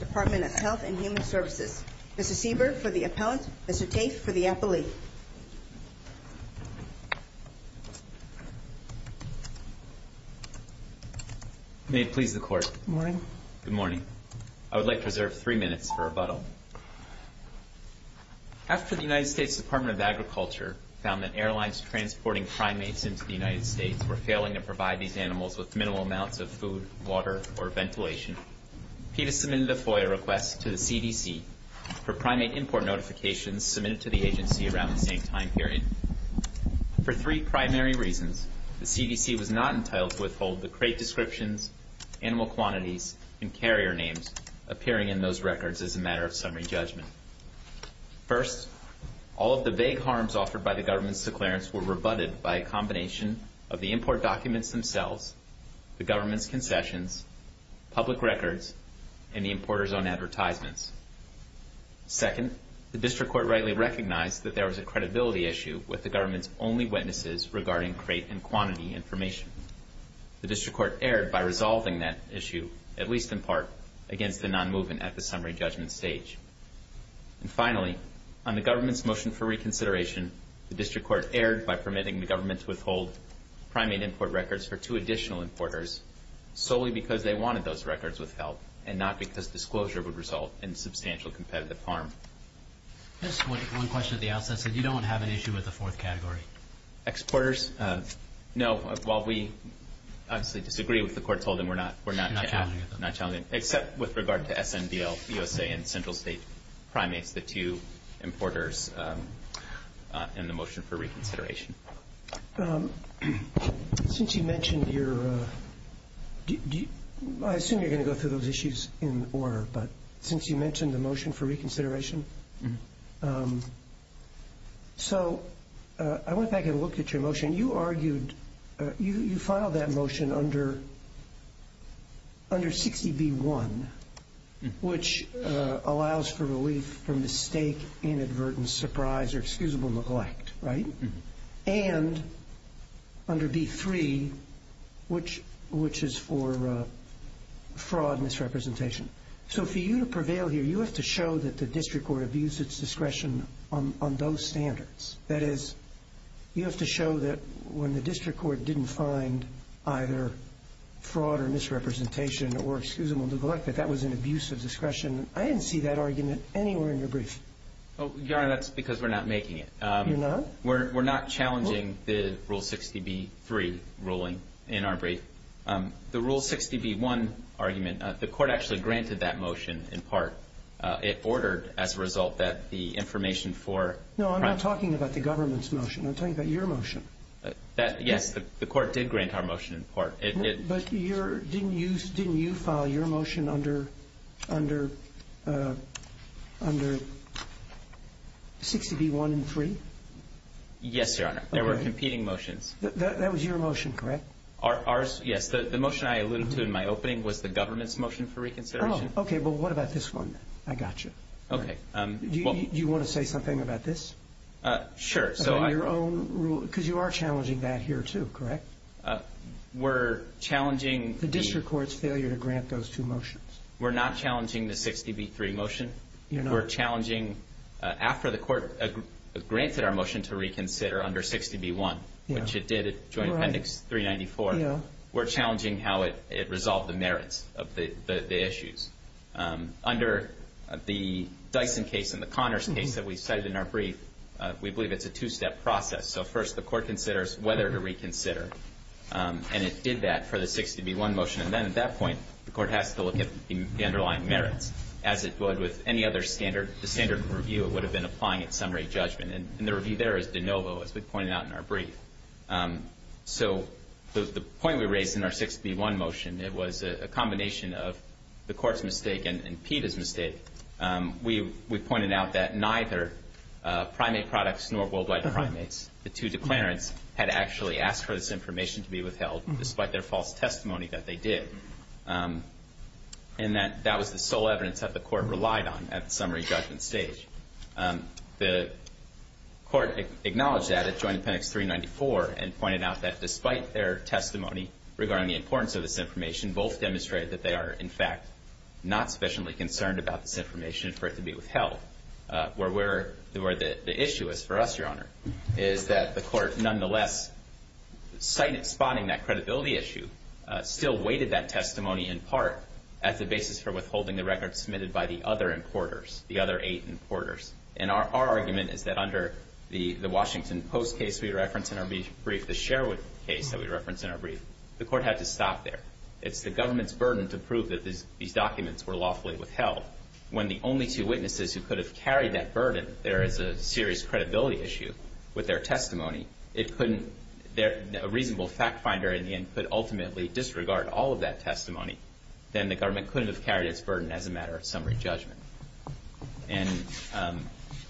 Department of Health and Human Services. Mr. Seaberg for the Appellant. Mr. Tate for the Appellee. May it please the Court. Good morning. Good morning. I would like to reserve three minutes for rebuttal. After the United States Department of Agriculture found that airlines transporting primates into the United States were failing to provide these animals with minimal amounts of food, water, or ventilation, PETA submitted a FOIA request to the CDC for primate import notifications submitted to the agency around the same time period. For three primary reasons, the CDC was not entitled to withhold the crate descriptions, animal quantities, and carrier names appearing in those records as a matter of summary judgment. First, all of the vague harms offered by the government's declarants were rebutted by a combination of the import documents themselves, the government's concessions, public records, and the importer's own advertisements. Second, the district court rightly recognized that there was a credibility issue with the government's only witnesses regarding crate and quantity information. The district court erred by resolving that issue, at least in part, against the non-movement at the summary judgment stage. And finally, on the government's motion for reconsideration, the district court erred by permitting the government to withhold primate import records for two additional importers solely because they wanted those records withheld and not because disclosure would result in substantial competitive harm. Just one question at the outset, so you don't have an issue with the fourth category? Exporters? No. While we obviously disagree with the court's holding, we're not challenging it. Except with regard to SNBL, USA, and Central State Primates, the two importers in the motion for reconsideration. Since you mentioned your... I assume you're going to go through those issues in order, but since you mentioned the motion for reconsideration, so I went back and looked at your motion. You argued, you filed that motion under 60B1, which allows for relief from mistake, inadvertence, surprise, or excusable neglect, right? And under B3, which is for fraud and misrepresentation. So for you to prevail here, you have to show that the district court abused its discretion on those standards. That is, you have to show that when the district court didn't find either fraud or misrepresentation or excusable neglect, that that was an abuse of discretion. I didn't see that argument anywhere in your brief. Your Honor, that's because we're not making it. You're not? We're not challenging the Rule 60B3 ruling in our brief. The Rule 60B1 argument, the court actually granted that motion in part. It ordered, as a result, that the information for... No, I'm not talking about the government's motion. I'm talking about your motion. Yes, the court did grant our motion in part. But didn't you file your motion under 60B1 and B3? Yes, Your Honor. There were competing motions. That was your motion, correct? Yes. The motion I alluded to in my opening was the government's motion for reconsideration. Oh, okay. But what about this one? I got you. Do you want to say something about this? Sure. About your own rule? Because you are challenging that here, too, correct? We're challenging... The district court's failure to grant those two motions. We're not challenging the 60B3 motion. We're challenging, after the court granted our motion to reconsider under 60B1, which it did at Joint Appendix 394, we're challenging how it resolved the merits of the issues. Under the Dyson case and the Connors case that we cited in our brief, we believe it's a two-step process. So first, the court considers whether to reconsider. And it did that for the 60B1 motion. And then at that point, the court has to look at the underlying merits, as it would with any other standard. The standard review would have been applying at summary judgment. And the review there is de novo, as we pointed out in our brief. So the point we raised in our 60B1 motion, it was a combination of the court's mistake and PETA's mistake. We pointed out that neither primate products nor worldwide primates, the two declarants, had actually asked for this information to be withheld, despite their false testimony that they did. And that was the sole evidence that the court relied on at the summary judgment stage. The court acknowledged that at Joint Appendix 394, and pointed out that despite their testimony regarding the importance of this information, both demonstrated that they are, in fact, not sufficiently concerned about this information for it to be withheld. Where the issue is for us, Your Honor, is that the court, nonetheless, citing and spotting that credibility issue, still weighted that testimony in part as a basis for withholding the records submitted by the other importers, the other eight importers. And our argument is that under the Washington Post case we referenced in our brief, the Sherwood case that we referenced in our brief, the court had to stop there. It's the government's burden to prove that these documents were lawfully withheld. When the only two witnesses who could have carried that burden, there is a serious credibility issue with their testimony. It couldn't – a reasonable fact finder, in the end, could ultimately disregard all of that testimony. Then the government couldn't have carried its burden as a matter of summary judgment. And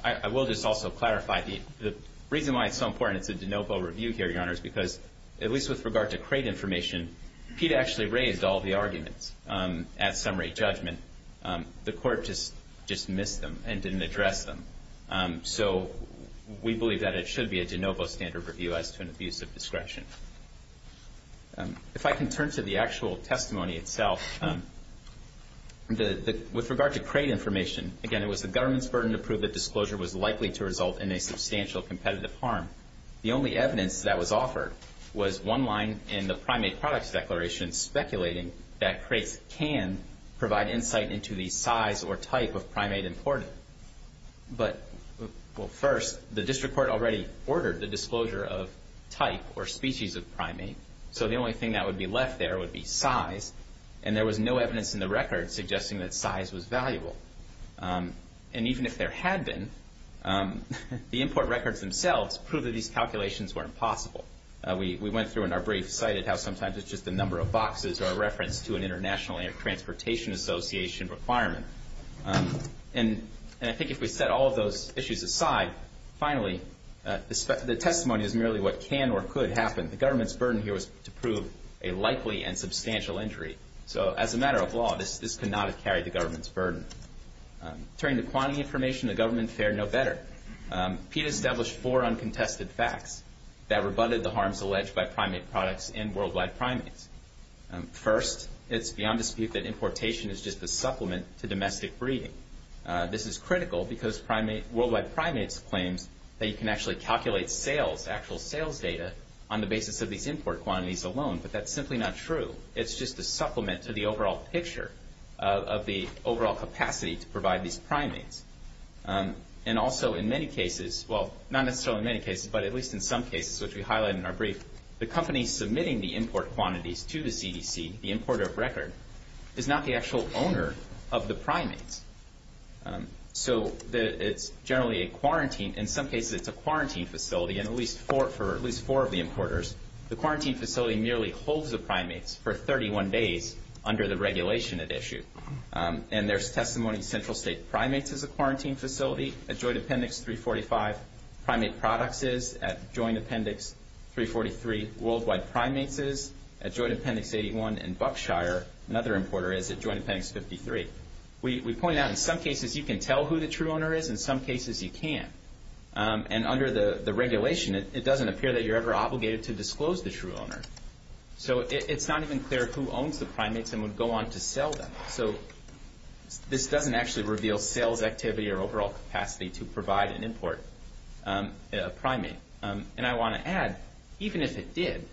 I will just also clarify the reason why it's so important it's a de novo review here, Your Honor, is because, at least with regard to crate information, PETA actually raised all the arguments at summary judgment. The court just missed them and didn't address them. So we believe that it should be a de novo standard review as to an abuse of discretion. If I can turn to the actual testimony itself, with regard to crate information, again, it was the government's burden to prove that disclosure was likely to result in a substantial competitive harm. The only evidence that was offered was one line in the primate products declaration speculating that crates can provide insight into the size or type of primate imported. But first, the district court already ordered the disclosure of type or species of primate, so the only thing that would be left there would be size. And there was no evidence in the record suggesting that size was valuable. And even if there had been, the import records themselves proved that these calculations weren't possible. We went through in our brief cited how sometimes it's just the number of boxes or a reference to an international transportation association requirement. And I think if we set all of those issues aside, finally, the testimony is merely what can or could happen. The government's burden here was to prove a likely and substantial injury. So as a matter of law, this could not have carried the government's burden. Turning to quantity information, the government fared no better. PETA established four uncontested facts that rebutted the harms alleged by primate importation is just a supplement to domestic breeding. This is critical because primate worldwide primates claims that you can actually calculate sales, actual sales data on the basis of these import quantities alone. But that's simply not true. It's just a supplement to the overall picture of the overall capacity to provide these primates. And also in many cases, well, not necessarily many cases, but at least in some cases, which we highlight in our brief, the companies submitting the import quantities to the CDC, the importer of record, is not the actual owner of the primates. So it's generally a quarantine. In some cases, it's a quarantine facility. And at least for at least four of the importers, the quarantine facility merely holds the primates for 31 days under the regulation at issue. And there's testimony in central state primates as a quarantine facility. At Joint Appendix 345, primate products is. At Joint Appendix 343, worldwide primates is. At Joint Appendix 81 and Buckshire, another importer, is at Joint Appendix 53. We point out in some cases you can tell who the true owner is. In some cases, you can't. And under the regulation, it doesn't appear that you're ever obligated to disclose the true owner. So it's not even clear who owns the primates and would go on to sell them. So this doesn't actually reveal sales activity or overall capacity to provide and import a primate. And I want to add, even if it did,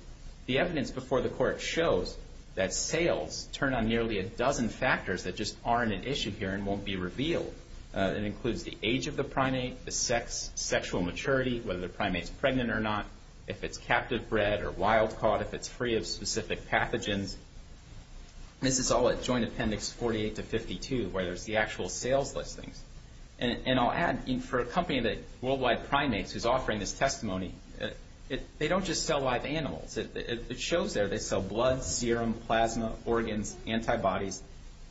the evidence before the court shows that sales turn on nearly a dozen factors that just aren't at issue here and won't be revealed. It includes the age of the primate, the sex, sexual maturity, whether the primate's pregnant or not, if it's captive bred or wild caught, if it's free of specific pathogens. This is all at Joint Appendix 48 to 52, where there's the actual sales listings. And I'll add, for a company that worldwide primates who's offering this testimony, they don't just sell live animals. It shows there they sell blood, serum, plasma, organs, antibodies.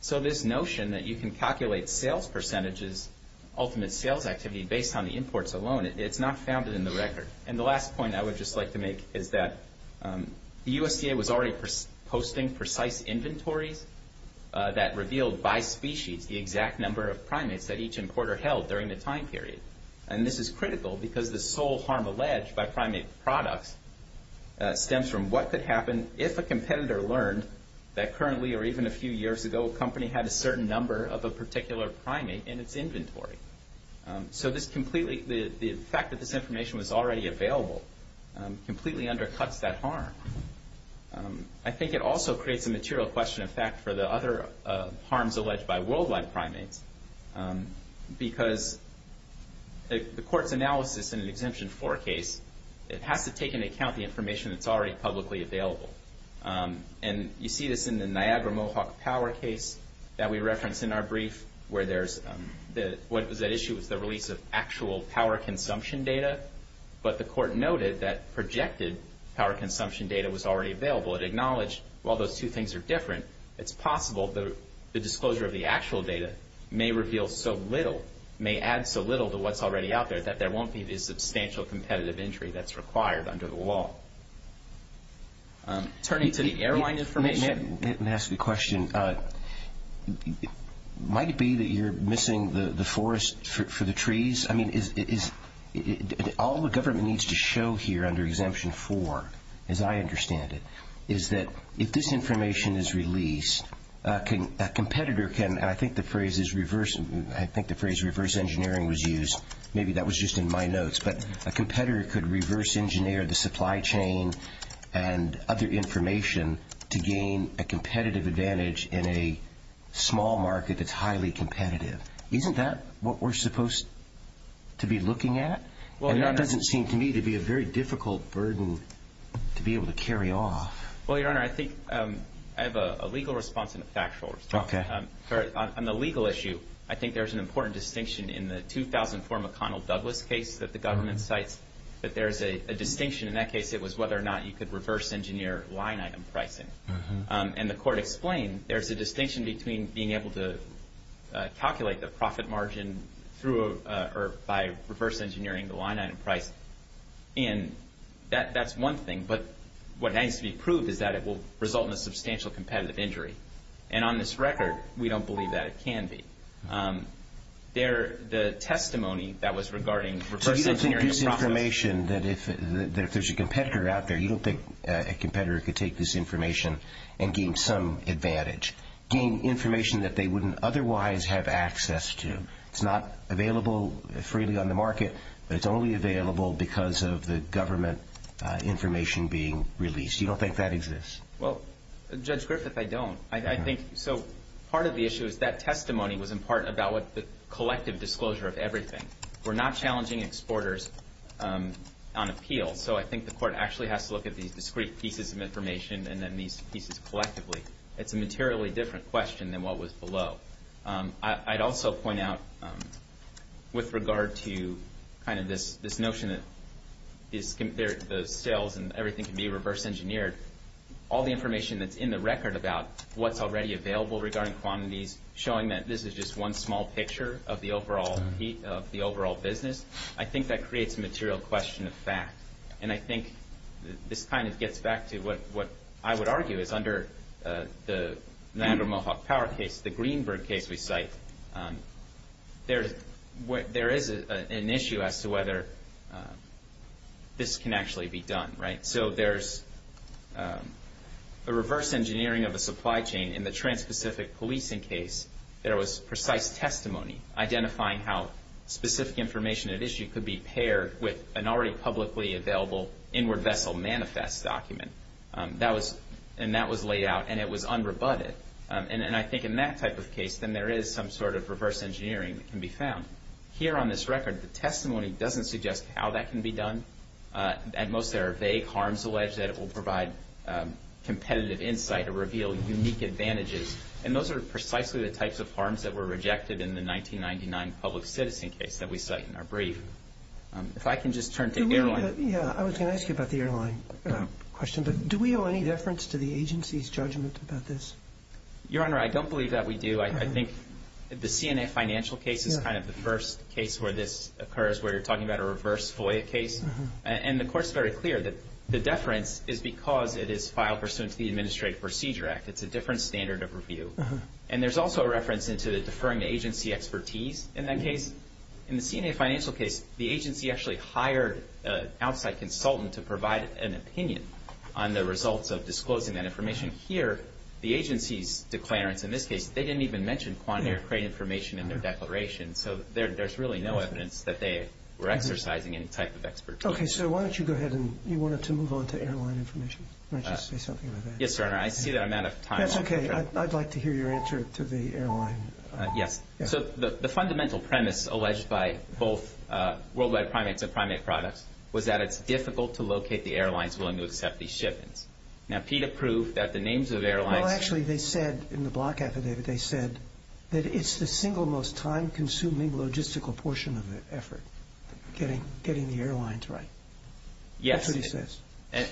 So this notion that you can calculate sales percentages, ultimate sales activity, based on the imports alone, it's not founded in the record. And the last point I would just like to make is that the USDA was already posting precise inventories that revealed by species the exact number of primates that the sole harm alleged by primate products stems from what could happen if a competitor learned that currently, or even a few years ago, a company had a certain number of a particular primate in its inventory. So this completely, the fact that this information was already available completely undercuts that harm. I think it also creates a material question in fact, for the other harms alleged by worldwide primates. Because the court's analysis in an Exemption 4 case, it has to take into account the information that's already publicly available. And you see this in the Niagara Mohawk power case that we referenced in our brief, where there's the, what was at issue was the release of actual power consumption data. But the court noted that projected power consumption data was already available. It acknowledged while those two things are different, it's possible that the disclosure of the actual data may reveal so little, may add so little to what's already out there, that there won't be the substantial competitive injury that's required under the law. Turning to the airline information. May I ask a question? Might it be that you're missing the forest for the trees? I mean, is, all the government needs to show here under Exemption 4, as I understand it, is that if this information is released, a competitor can, and I think the phrase is reverse, I think the phrase reverse engineering was used, maybe that was just in my notes, but a competitor could reverse engineer the supply chain and other information to gain a competitive advantage in a small market that's highly competitive. Isn't that what we're supposed to be looking at? And that doesn't seem to me to be a very difficult burden to be able to carry off. Well, Your Honor, I think I have a legal response and a factual response. On the legal issue, I think there's an important distinction in the 2004 McConnell Douglas case that the government cites, that there's a distinction. In that case, it was whether or not you could reverse engineer line item pricing. And the court explained, there's a distinction between being able to calculate the profit margin through, or by reverse engineering the line item price, and that's one thing. But what needs to be proved is that it will result in a substantial competitive injury. And on this record, we don't believe that it can be. There, the testimony that was regarding reverse engineering the profit margin. There's a distinction that if there's a competitor out there, you don't think a competitor could take this information and gain some advantage. Gain information that they wouldn't otherwise have access to. It's not available freely on the market, but it's only available because of the government information being released. You don't think that exists? Well, Judge Griffith, I don't. I think, so part of the issue is that testimony was in on appeal. So I think the court actually has to look at these discrete pieces of information and then these pieces collectively. It's a materially different question than what was below. I'd also point out with regard to kind of this notion that the sales and everything can be reverse engineered. All the information that's in the record about what's already available regarding quantities, showing that this is just one small picture of the overall business. I think that creates a material question of fact. And I think this kind of gets back to what I would argue is under the Niagara Mohawk Power case, the Greenberg case we cite. There is an issue as to whether this can actually be done, right? So there's a reverse engineering of a supply chain in the Trans-Pacific Policing case. There was precise testimony identifying how specific information at issue could be paired with an already publicly available inward vessel manifest document. And that was laid out and it was unrebutted. And I think in that type of case, then there is some sort of reverse engineering that can be found. Here on this record, the testimony doesn't suggest how that can be done. At most there are vague harms alleged that will provide competitive insight or reveal unique advantages. And those are precisely the types of harms that were rejected in the 1999 public citizen case that we cite in our brief. If I can just turn to airline. Yeah, I was going to ask you about the airline question, but do we owe any deference to the agency's judgment about this? Your Honor, I don't believe that we do. I think the CNA financial case is kind of the first case where this occurs, where you're talking about a reverse FOIA case. And the court's very clear that the deference is because it is filed pursuant to the Administrative Procedure Act. It's a different standard of review. And there's also a reference into the deferring to agency expertise in that case. In the CNA financial case, the agency actually hired an outside consultant to provide an opinion on the results of disclosing that information. Here, the agency's declarants in this case, they didn't even mention quantum aircraft information in their declaration. So there's really no evidence that they were exercising any type of expertise. Okay, so why don't you go ahead and you wanted to move on to airline information. Why don't you say something about that? Yes, Your Honor. I see that I'm out of time. That's okay. I'd like to hear your answer to the airline. Yes. So the fundamental premise alleged by both Worldwide Primates and Primate Products was that it's difficult to locate the airlines willing to accept these shipments. Now, PETA proved that the names of airlines... Well, actually, they said in the block affidavit, they said that it's the single most time-consuming logistical portion of the effort, getting the airlines right. Yes. That's what he says.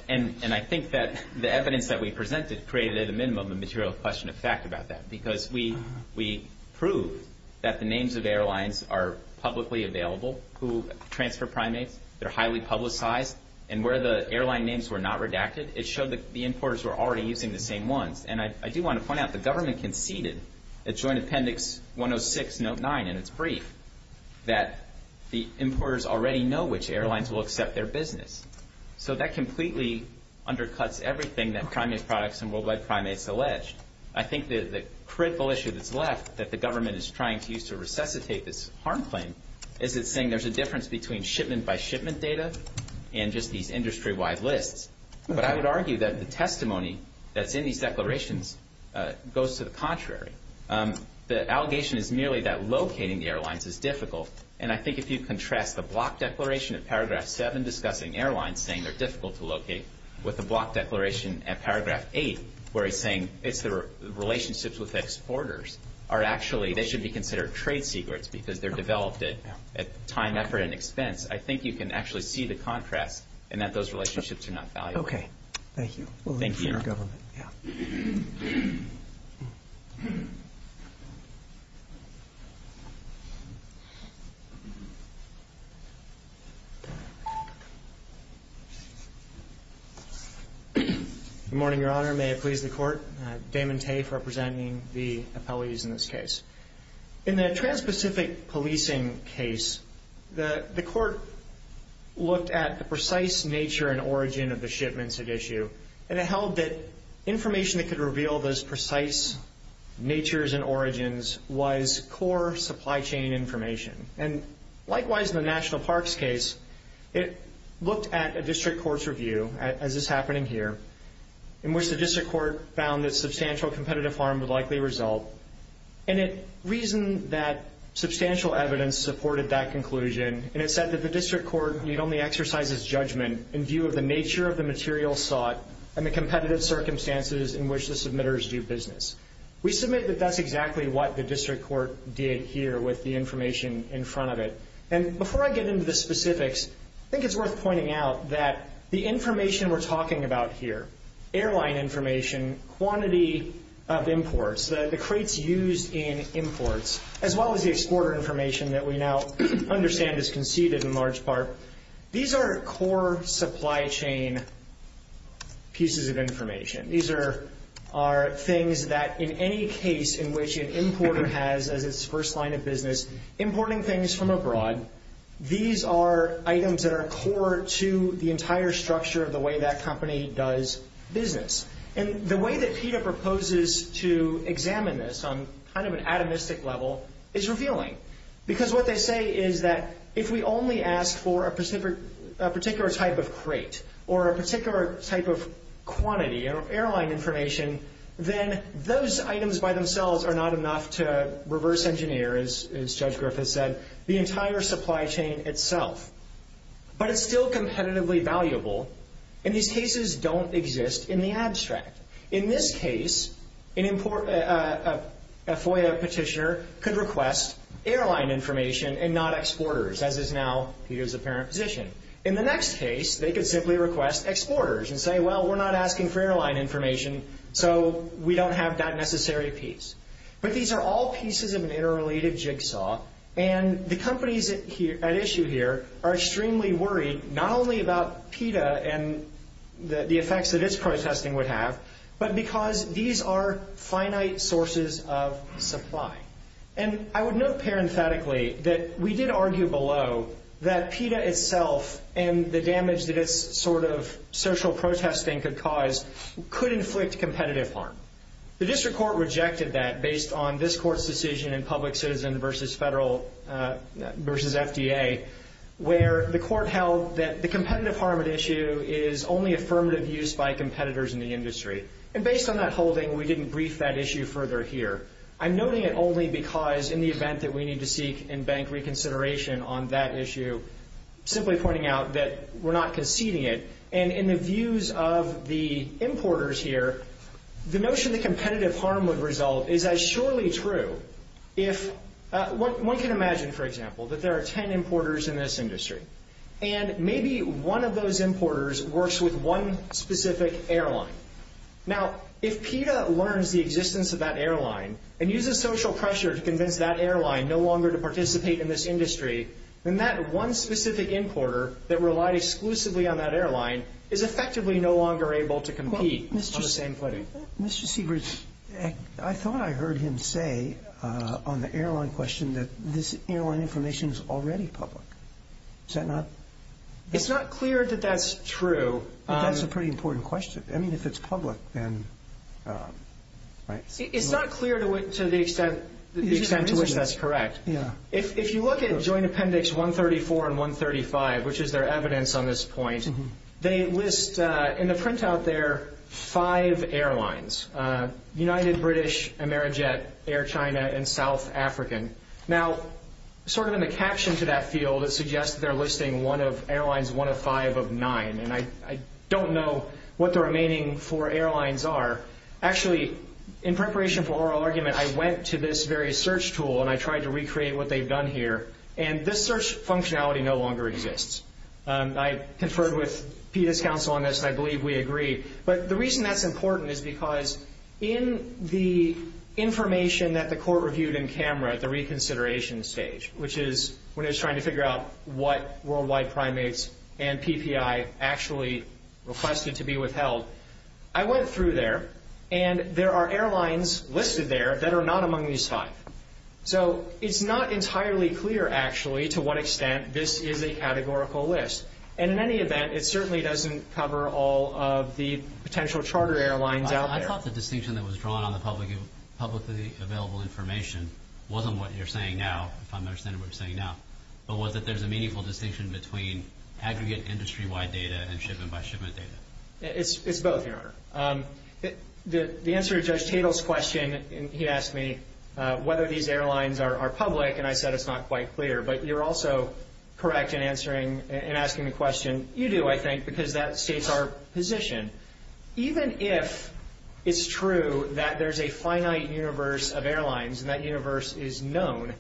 And I think that the evidence that we presented created, at a minimum, a material question of fact about that, because we proved that the names of airlines are publicly available who transfer primates. They're highly publicized. And where the airline names were not redacted, it showed that the importers were already using the same ones. And I do want to point out the government conceded at Joint Appendix 106, Note 9, in its brief, that the importers already know which airlines will accept their business. So that completely undercuts everything that Primate Products and Worldwide Primates allege. I think the critical issue that's left that the government is trying to use to resuscitate this harm claim is it's saying there's a difference between shipment-by-shipment data and just these industry-wide lists. But I would argue that the testimony that's in these declarations goes to the contrary. The allegation is merely that locating the airlines is difficult. And I think if you contrast the block declaration at Paragraph 7 discussing airlines, saying they're difficult to locate, with the block declaration at Paragraph 8, where it's saying it's the relationships with exporters are actually, they should be considered trade secrets because they're developed at time, effort, and expense. I think you can actually see the contrast in that those relationships are not valuable. Okay. Thank you. Thank you, Your Honor. Good morning, Your Honor. May it please the Court. Damon Tafe representing the appellees in this case. In the Trans-Pacific Policing case, the Court looked at the precise nature and origin of the shipments at issue and it held that information that could reveal those precise natures and origins was core supply chain information. And likewise, in the National Parks case, it looked at a district court's review, as is happening here, in which the district court found that substantial evidence supported that conclusion and it said that the district court need only exercise its judgment in view of the nature of the material sought and the competitive circumstances in which the submitters do business. We submit that that's exactly what the district court did here with the information in front of it. And before I get into the specifics, I think it's worth pointing out that the information we're talking about here, airline information, quantity of imports, the crates used in imports, as well as the exporter information that we now understand is conceded in large part, these are core supply chain pieces of information. These are things that in any case in which an importer has as its first line of business importing things from abroad, these are items that are core to the entire structure of the way that company does business. And the way that PETA proposes to examine this on kind of an atomistic level is revealing. Because what they say is that if we only ask for a particular type of crate or a particular type of quantity or airline information, then those items by themselves are not enough to reverse engineer, as Judge Griffiths said, the entire system. And these cases don't exist in the abstract. In this case, a FOIA petitioner could request airline information and not exporters, as is now PETA's apparent position. In the next case, they could simply request exporters and say, well, we're not asking for airline information, so we don't have that necessary piece. But these are all pieces of an interrelated jigsaw, and the companies at issue here are extremely worried not only about PETA and the effects that its protesting would have, but because these are finite sources of supply. And I would note parenthetically that we did argue below that PETA itself and the damage that its sort of social protesting could cause could inflict competitive harm. The district court rejected that based on this court's decision in public citizen versus federal versus FDA, where the court held that the competitive harm at issue is only affirmative use by competitors in the industry. And based on that holding, we didn't brief that issue further here. I'm noting it only because in the event that we need to seek in-bank reconsideration on that issue, simply pointing out that we're not conceding it. And in the views of the importers here, the notion that competitive harm would result is as surely true if one can imagine, for example, that there are ten importers in this industry, and maybe one of those importers works with one specific airline. Now, if PETA learns the existence of that airline and uses social pressure to convince that airline no longer to participate in this industry, then that one specific importer that relied exclusively on that airline is effectively no longer able to compete on the same footing. Mr. Sievers, I thought I heard him say on the airline question that this airline information is already public. Is that not? It's not clear that that's true. But that's a pretty important question. I mean, if it's public, then... It's not clear to the extent to which that's correct. If you look at Joint Appendix 134 and 135, which is their evidence on this point, they list in the printout there five airlines. United, British, Amerijet, Air China, and South African. Now, sort of in the caption to that field, it suggests that they're listing one of airlines one of five of nine. And I don't know what the remaining four airlines are. Actually, in preparation for oral argument, I went to this very search tool, and I tried to recreate what they've done here. And this search functionality no longer exists. I conferred with PETA's counsel on this, and I believe we agree. But the reason that's important is because in the information that the court reviewed in camera at the reconsideration stage, which is when it was trying to figure out what worldwide primates and PPI actually requested to be withheld, I went through there and there are airlines listed there that are not among these five. So it's not entirely clear, actually, to what extent this is a categorical list. And in any event, it certainly doesn't cover all of the potential charter airlines out there. I thought the distinction that was drawn on the publicly available information wasn't what you're saying now, if I understand what you're saying now, but was that there's a meaningful distinction between aggregate industry-wide data and shipment-by-shipment data. It's both, Your Honor. The answer to Judge Tatel's question, he asked me whether these are not quite clear, but you're also correct in asking the question. You do, I think, because that states our position. Even if it's true that there's a finite universe of airlines and that universe is known,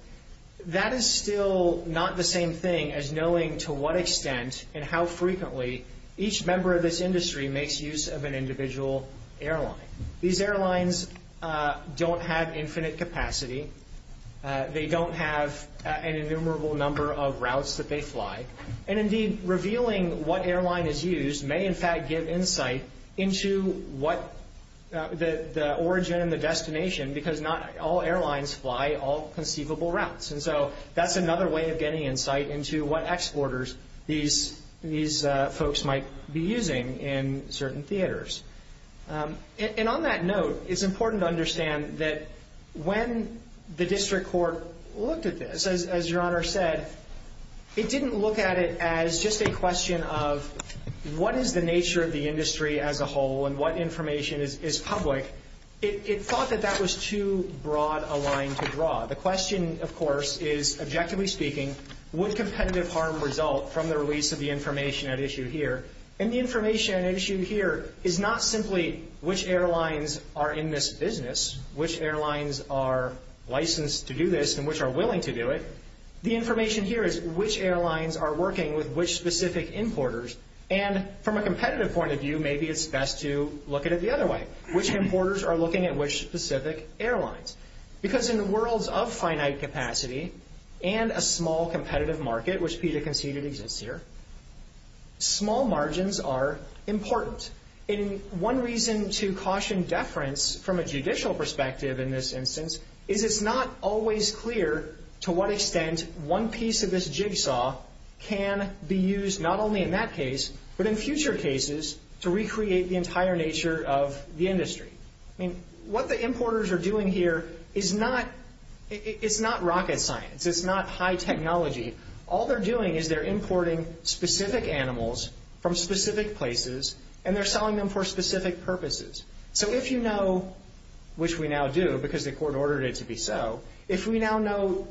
that is still not the same thing as knowing to what extent and how frequently each member of this industry makes use of an individual airline. These have infinite capacity. They don't have an innumerable number of routes that they fly. And indeed, revealing what airline is used may, in fact, give insight into what the origin and the destination, because not all airlines fly all conceivable routes. And so that's another way of getting insight into what exporters these folks might be using in certain theaters. And on that note, it's important to understand that when the district court looked at this, as Your Honor said, it didn't look at it as just a question of what is the nature of the industry as a whole and what information is public. It thought that that was too broad a line to draw. The question, of course, is, objectively speaking, would competitive harm result from the release of the information at issue here? And the information at issue here is not simply which airlines are in this business, which airlines are licensed to do this and which are willing to do it. The information here is which airlines are working with which specific importers. And from a competitive point of view, maybe it's best to look at it the other way. Which importers are looking at which specific airlines? Because in the worlds of finite capacity and a small competitive market, which PETA conceded exists here, small margins are important. And one reason to caution deference from a judicial perspective in this instance is it's not always clear to what extent one piece of this jigsaw can be used, not only in that case, but in future cases to recreate the entire nature of the industry. I mean, what the importers are doing here is not rocket science. It's not high technology. All they're doing is they're importing specific animals from specific places, and they're selling them for specific purposes. So if you know, which we now do because the court ordered it to be so, if we now know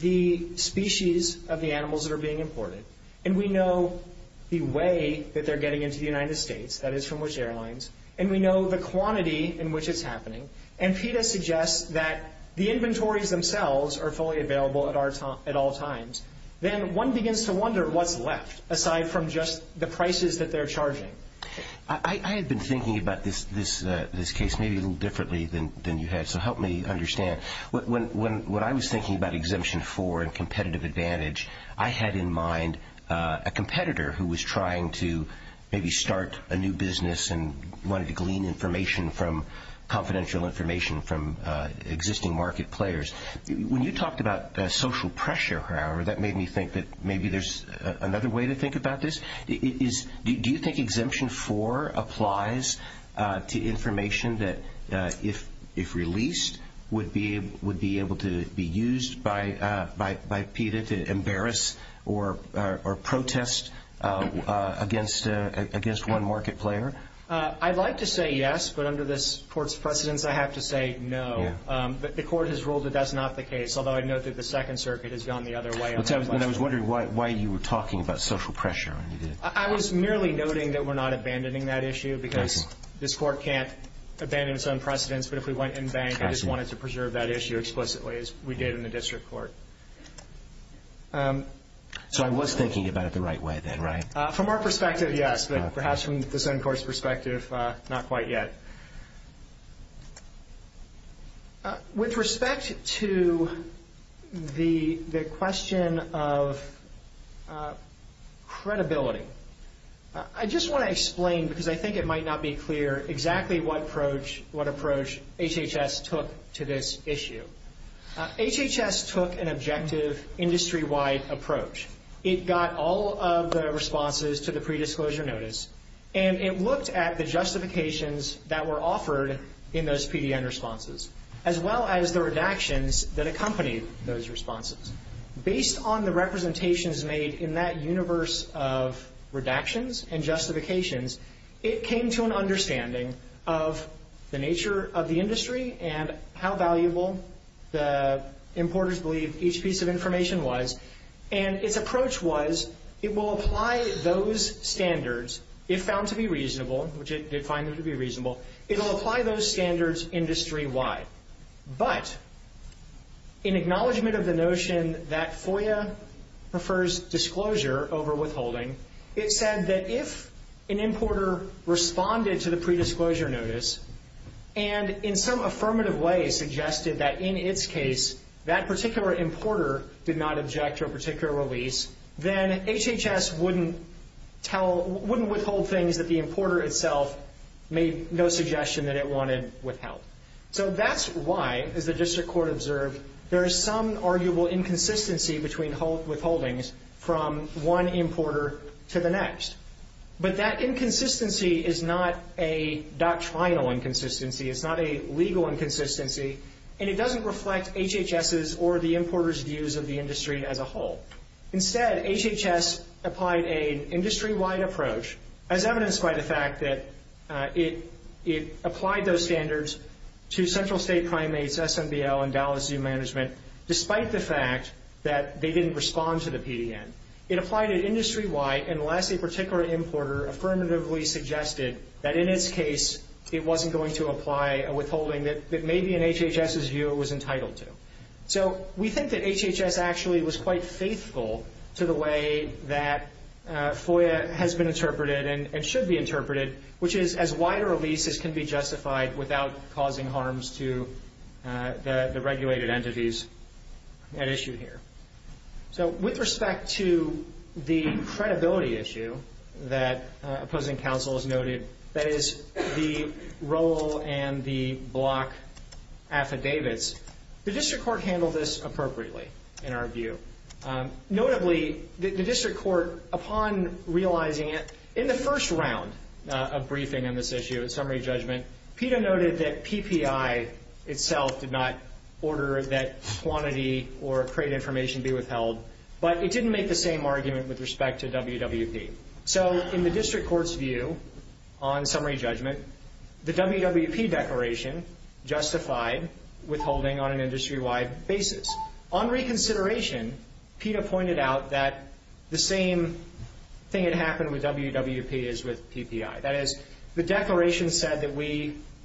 the species of the animals that are being imported, and we know the way that they're getting into the United States, that is from which airlines, and we know the quantity in which it's happening, and PETA suggests that the inventories themselves are fully available at all times, then one begins to wonder what's left, aside from just the prices that they're charging. I had been thinking about this case maybe a little differently than you had, so help me understand. When I was thinking about Exemption 4 and competitive advantage, I had in mind a competitor who was trying to maybe start a new business and wanted to glean information from confidential information from existing market players. When you talked about social pressure, however, that made me think that maybe there's another way to think about this. Do you think Exemption 4 applies to information that, if released, would be able to be used by PETA to embarrass or protest against one market player? I'd like to say yes, but under this Court's precedence, I have to say no. The Court has ruled that that's not the case, although I'd note that the Second Circuit has gone the other way on that question. I was wondering why you were talking about social pressure. I was merely noting that we're not abandoning that issue because this Court can't abandon its own precedence, but if we went in bank, I just wanted to preserve that issue explicitly as we did in the District Court. So I was thinking about it the right way then, right? From our perspective, yes, but perhaps from this end Court's perspective, not quite yet. With respect to the question of credibility, I just want to explain, because I think it might not be clear, exactly what approach HHS took to this issue. HHS took an objective industry-wide approach. It got all of the responses to the predisclosure notice, and it looked at the justifications that were offered in those PDN responses, as well as the redactions that accompanied those responses. Based on the representations made in that universe of redactions and justifications, it came to an understanding of the nature of the industry and how valuable the importers believed each piece of information was, and its approach was it will apply those standards, if found to be reasonable, which it did find to be reasonable, it will apply those standards industry-wide. But in acknowledgment of the notion that FOIA prefers disclosure over withholding, it said that if an importer responded to the notice, and in some affirmative way suggested that in its case, that particular importer did not object to a particular release, then HHS wouldn't withhold things that the importer itself made no suggestion that it wanted withheld. So that's why, as the District Court observed, there is some arguable inconsistency between withholdings from one importer to the next. But that inconsistency is not a doctrinal inconsistency, it's not a legal inconsistency, and it doesn't reflect HHS's or the importer's views of the industry as a whole. Instead, HHS applied an industry-wide approach, as evidenced by the fact that it applied those standards to Central State Primates, SMBL, and Dallas Zoo Management, despite the fact that they didn't respond to the PDN. It applied it industry-wide, unless a particular importer affirmatively suggested that in its case, it wasn't going to apply a withholding that maybe in HHS's view, it was entitled to. So we think that HHS actually was quite faithful to the way that FOIA has been interpreted and should be interpreted, which is as wide a release as can be justified without causing harms to the regulated entities at issue here. So with respect to the credibility issue that opposing counsel has noted, that is, the role and the block affidavits, the District Court handled this appropriately, in our view. Notably, the District Court, upon realizing it, in the first round of briefing on this issue at summary judgment, PETA noted that PPI itself did not order that quantity or create information to be withheld, but it didn't make the same argument with respect to WWP. So in the District Court's view on summary judgment, the WWP declaration justified withholding on an industry-wide basis. On reconsideration, PETA pointed out that the same thing had happened with WWP as with PPI. That is, the declaration said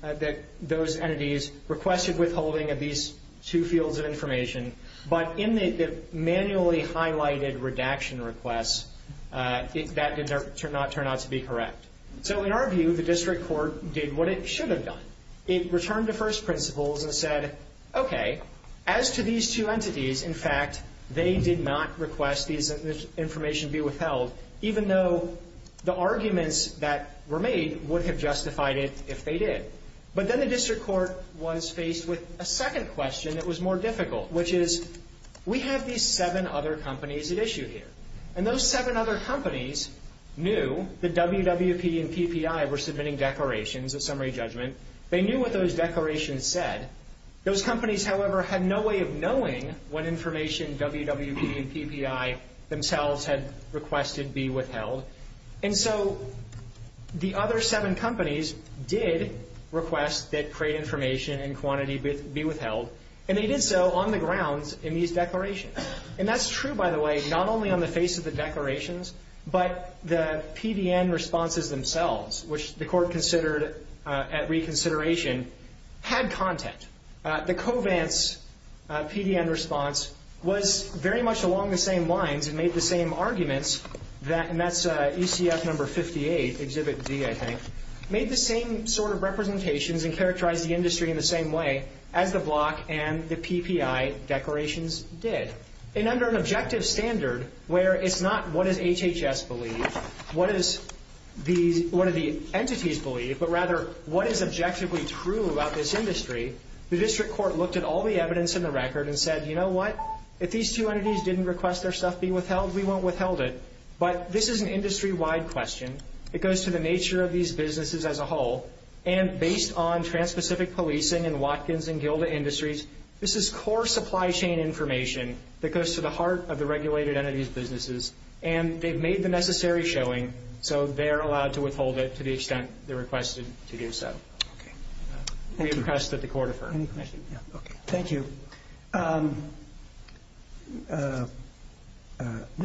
that those entities requested withholding of these two fields of information, but in the manually highlighted redaction requests, that did not turn out to be correct. So in our view, the District Court did what it should have done. It returned to first principles and said, okay, as to these two entities, in fact, they did not request this information be withheld, even though the arguments that were made would have justified it if they did. But then the District Court was faced with a second question that was more difficult, which is, we have these seven other companies at issue here, and those seven other companies knew that WWP and PPI were submitting declarations at summary judgment. They knew what those declarations said. Those companies, however, had no way of knowing what information WWP and PPI themselves had requested be withheld. And so the other seven companies did request that crate information and quantity be withheld, and they did so on the grounds in these declarations. And that's true, by the way, not only on the face of the declarations, but the PDN responses themselves, which the Court considered at reconsideration, had content. The Covance PDN response was very much along the same arguments that, and that's ECF number 58, Exhibit D, I think, made the same sort of representations and characterized the industry in the same way as the Block and the PPI declarations did. And under an objective standard where it's not what does HHS believe, what do the entities believe, but rather what is objectively true about this industry, the District Court looked at all the evidence in the record and said, you know what, if these two entities didn't request their stuff be withheld, we won't withheld it. But this is an industry-wide question. It goes to the nature of these businesses as a whole, and based on Trans-Pacific Policing and Watkins and Gilda Industries, this is core supply chain information that goes to the heart of the regulated entities' businesses, and they've made the necessary showing, so they're allowed to withhold it to the extent they requested to do so. We request that the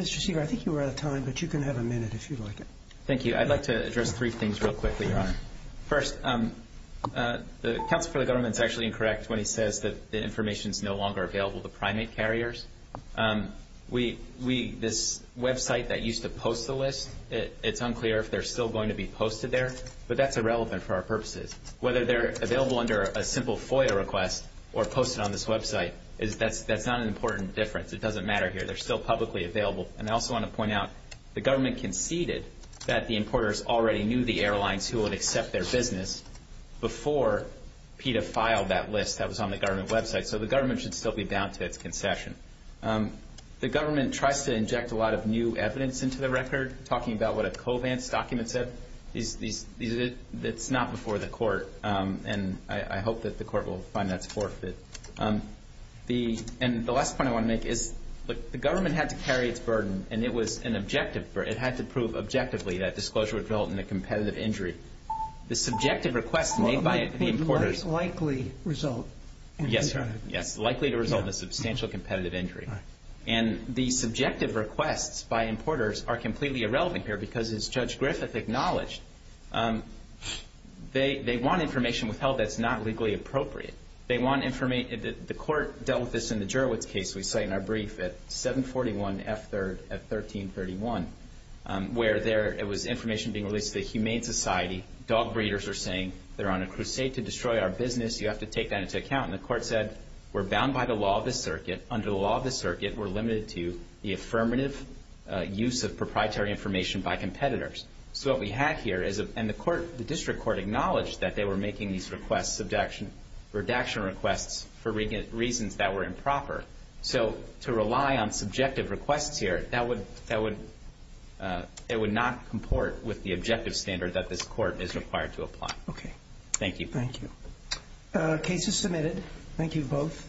Mr. Seager, I think you were out of time, but you can have a minute if you'd like it. Thank you. I'd like to address three things real quickly, Your Honor. First, the counsel for the government is actually incorrect when he says that the information is no longer available to primate carriers. We, this website that used to post the list, it's unclear if they're still going to be posted there, but that's irrelevant for our purposes. Whether they're available under a simple FOIA request or posted on this website, that's not an important difference. It doesn't matter here. They're still publicly available, and I also want to point out the government conceded that the importers already knew the airlines who would accept their business before PETA filed that list that was on the government website, so the government should still be bound to its concession. The government tries to inject a lot of new evidence into the record, talking about what a Covance document said. It's not before the court, and I hope that the court will find that's forfeit. And the last point I want to make is, look, the government had to carry its burden, and it was an objective burden. It had to prove objectively that disclosure would result in a competitive injury. The subjective requests made by the importers... Well, it might likely result in a competitive injury. Yes, likely to result in a substantial competitive injury. And the subjective requests by importers are completely irrelevant here, because as Judge Griffith acknowledged, they want information withheld that's not legally appropriate. They want information, the court dealt with this in the Jurowitz case we cite in our brief at 741 F. 3rd at 1331, where it was information being released to the Humane Society. Dog breeders are saying they're on a crusade to destroy our business. You have to take that into account. And the court said, we're bound by the law of the circuit. Under the law of the circuit, we're limited to the affirmative use of proprietary information by competitors. So what we have here is... And the district court acknowledged that they were making these reduction requests for reasons that were improper. So to rely on subjective requests here, that would not comport with the objective standard that this court is required to apply. Okay. Thank you. Thank you. Case is submitted. Thank you both.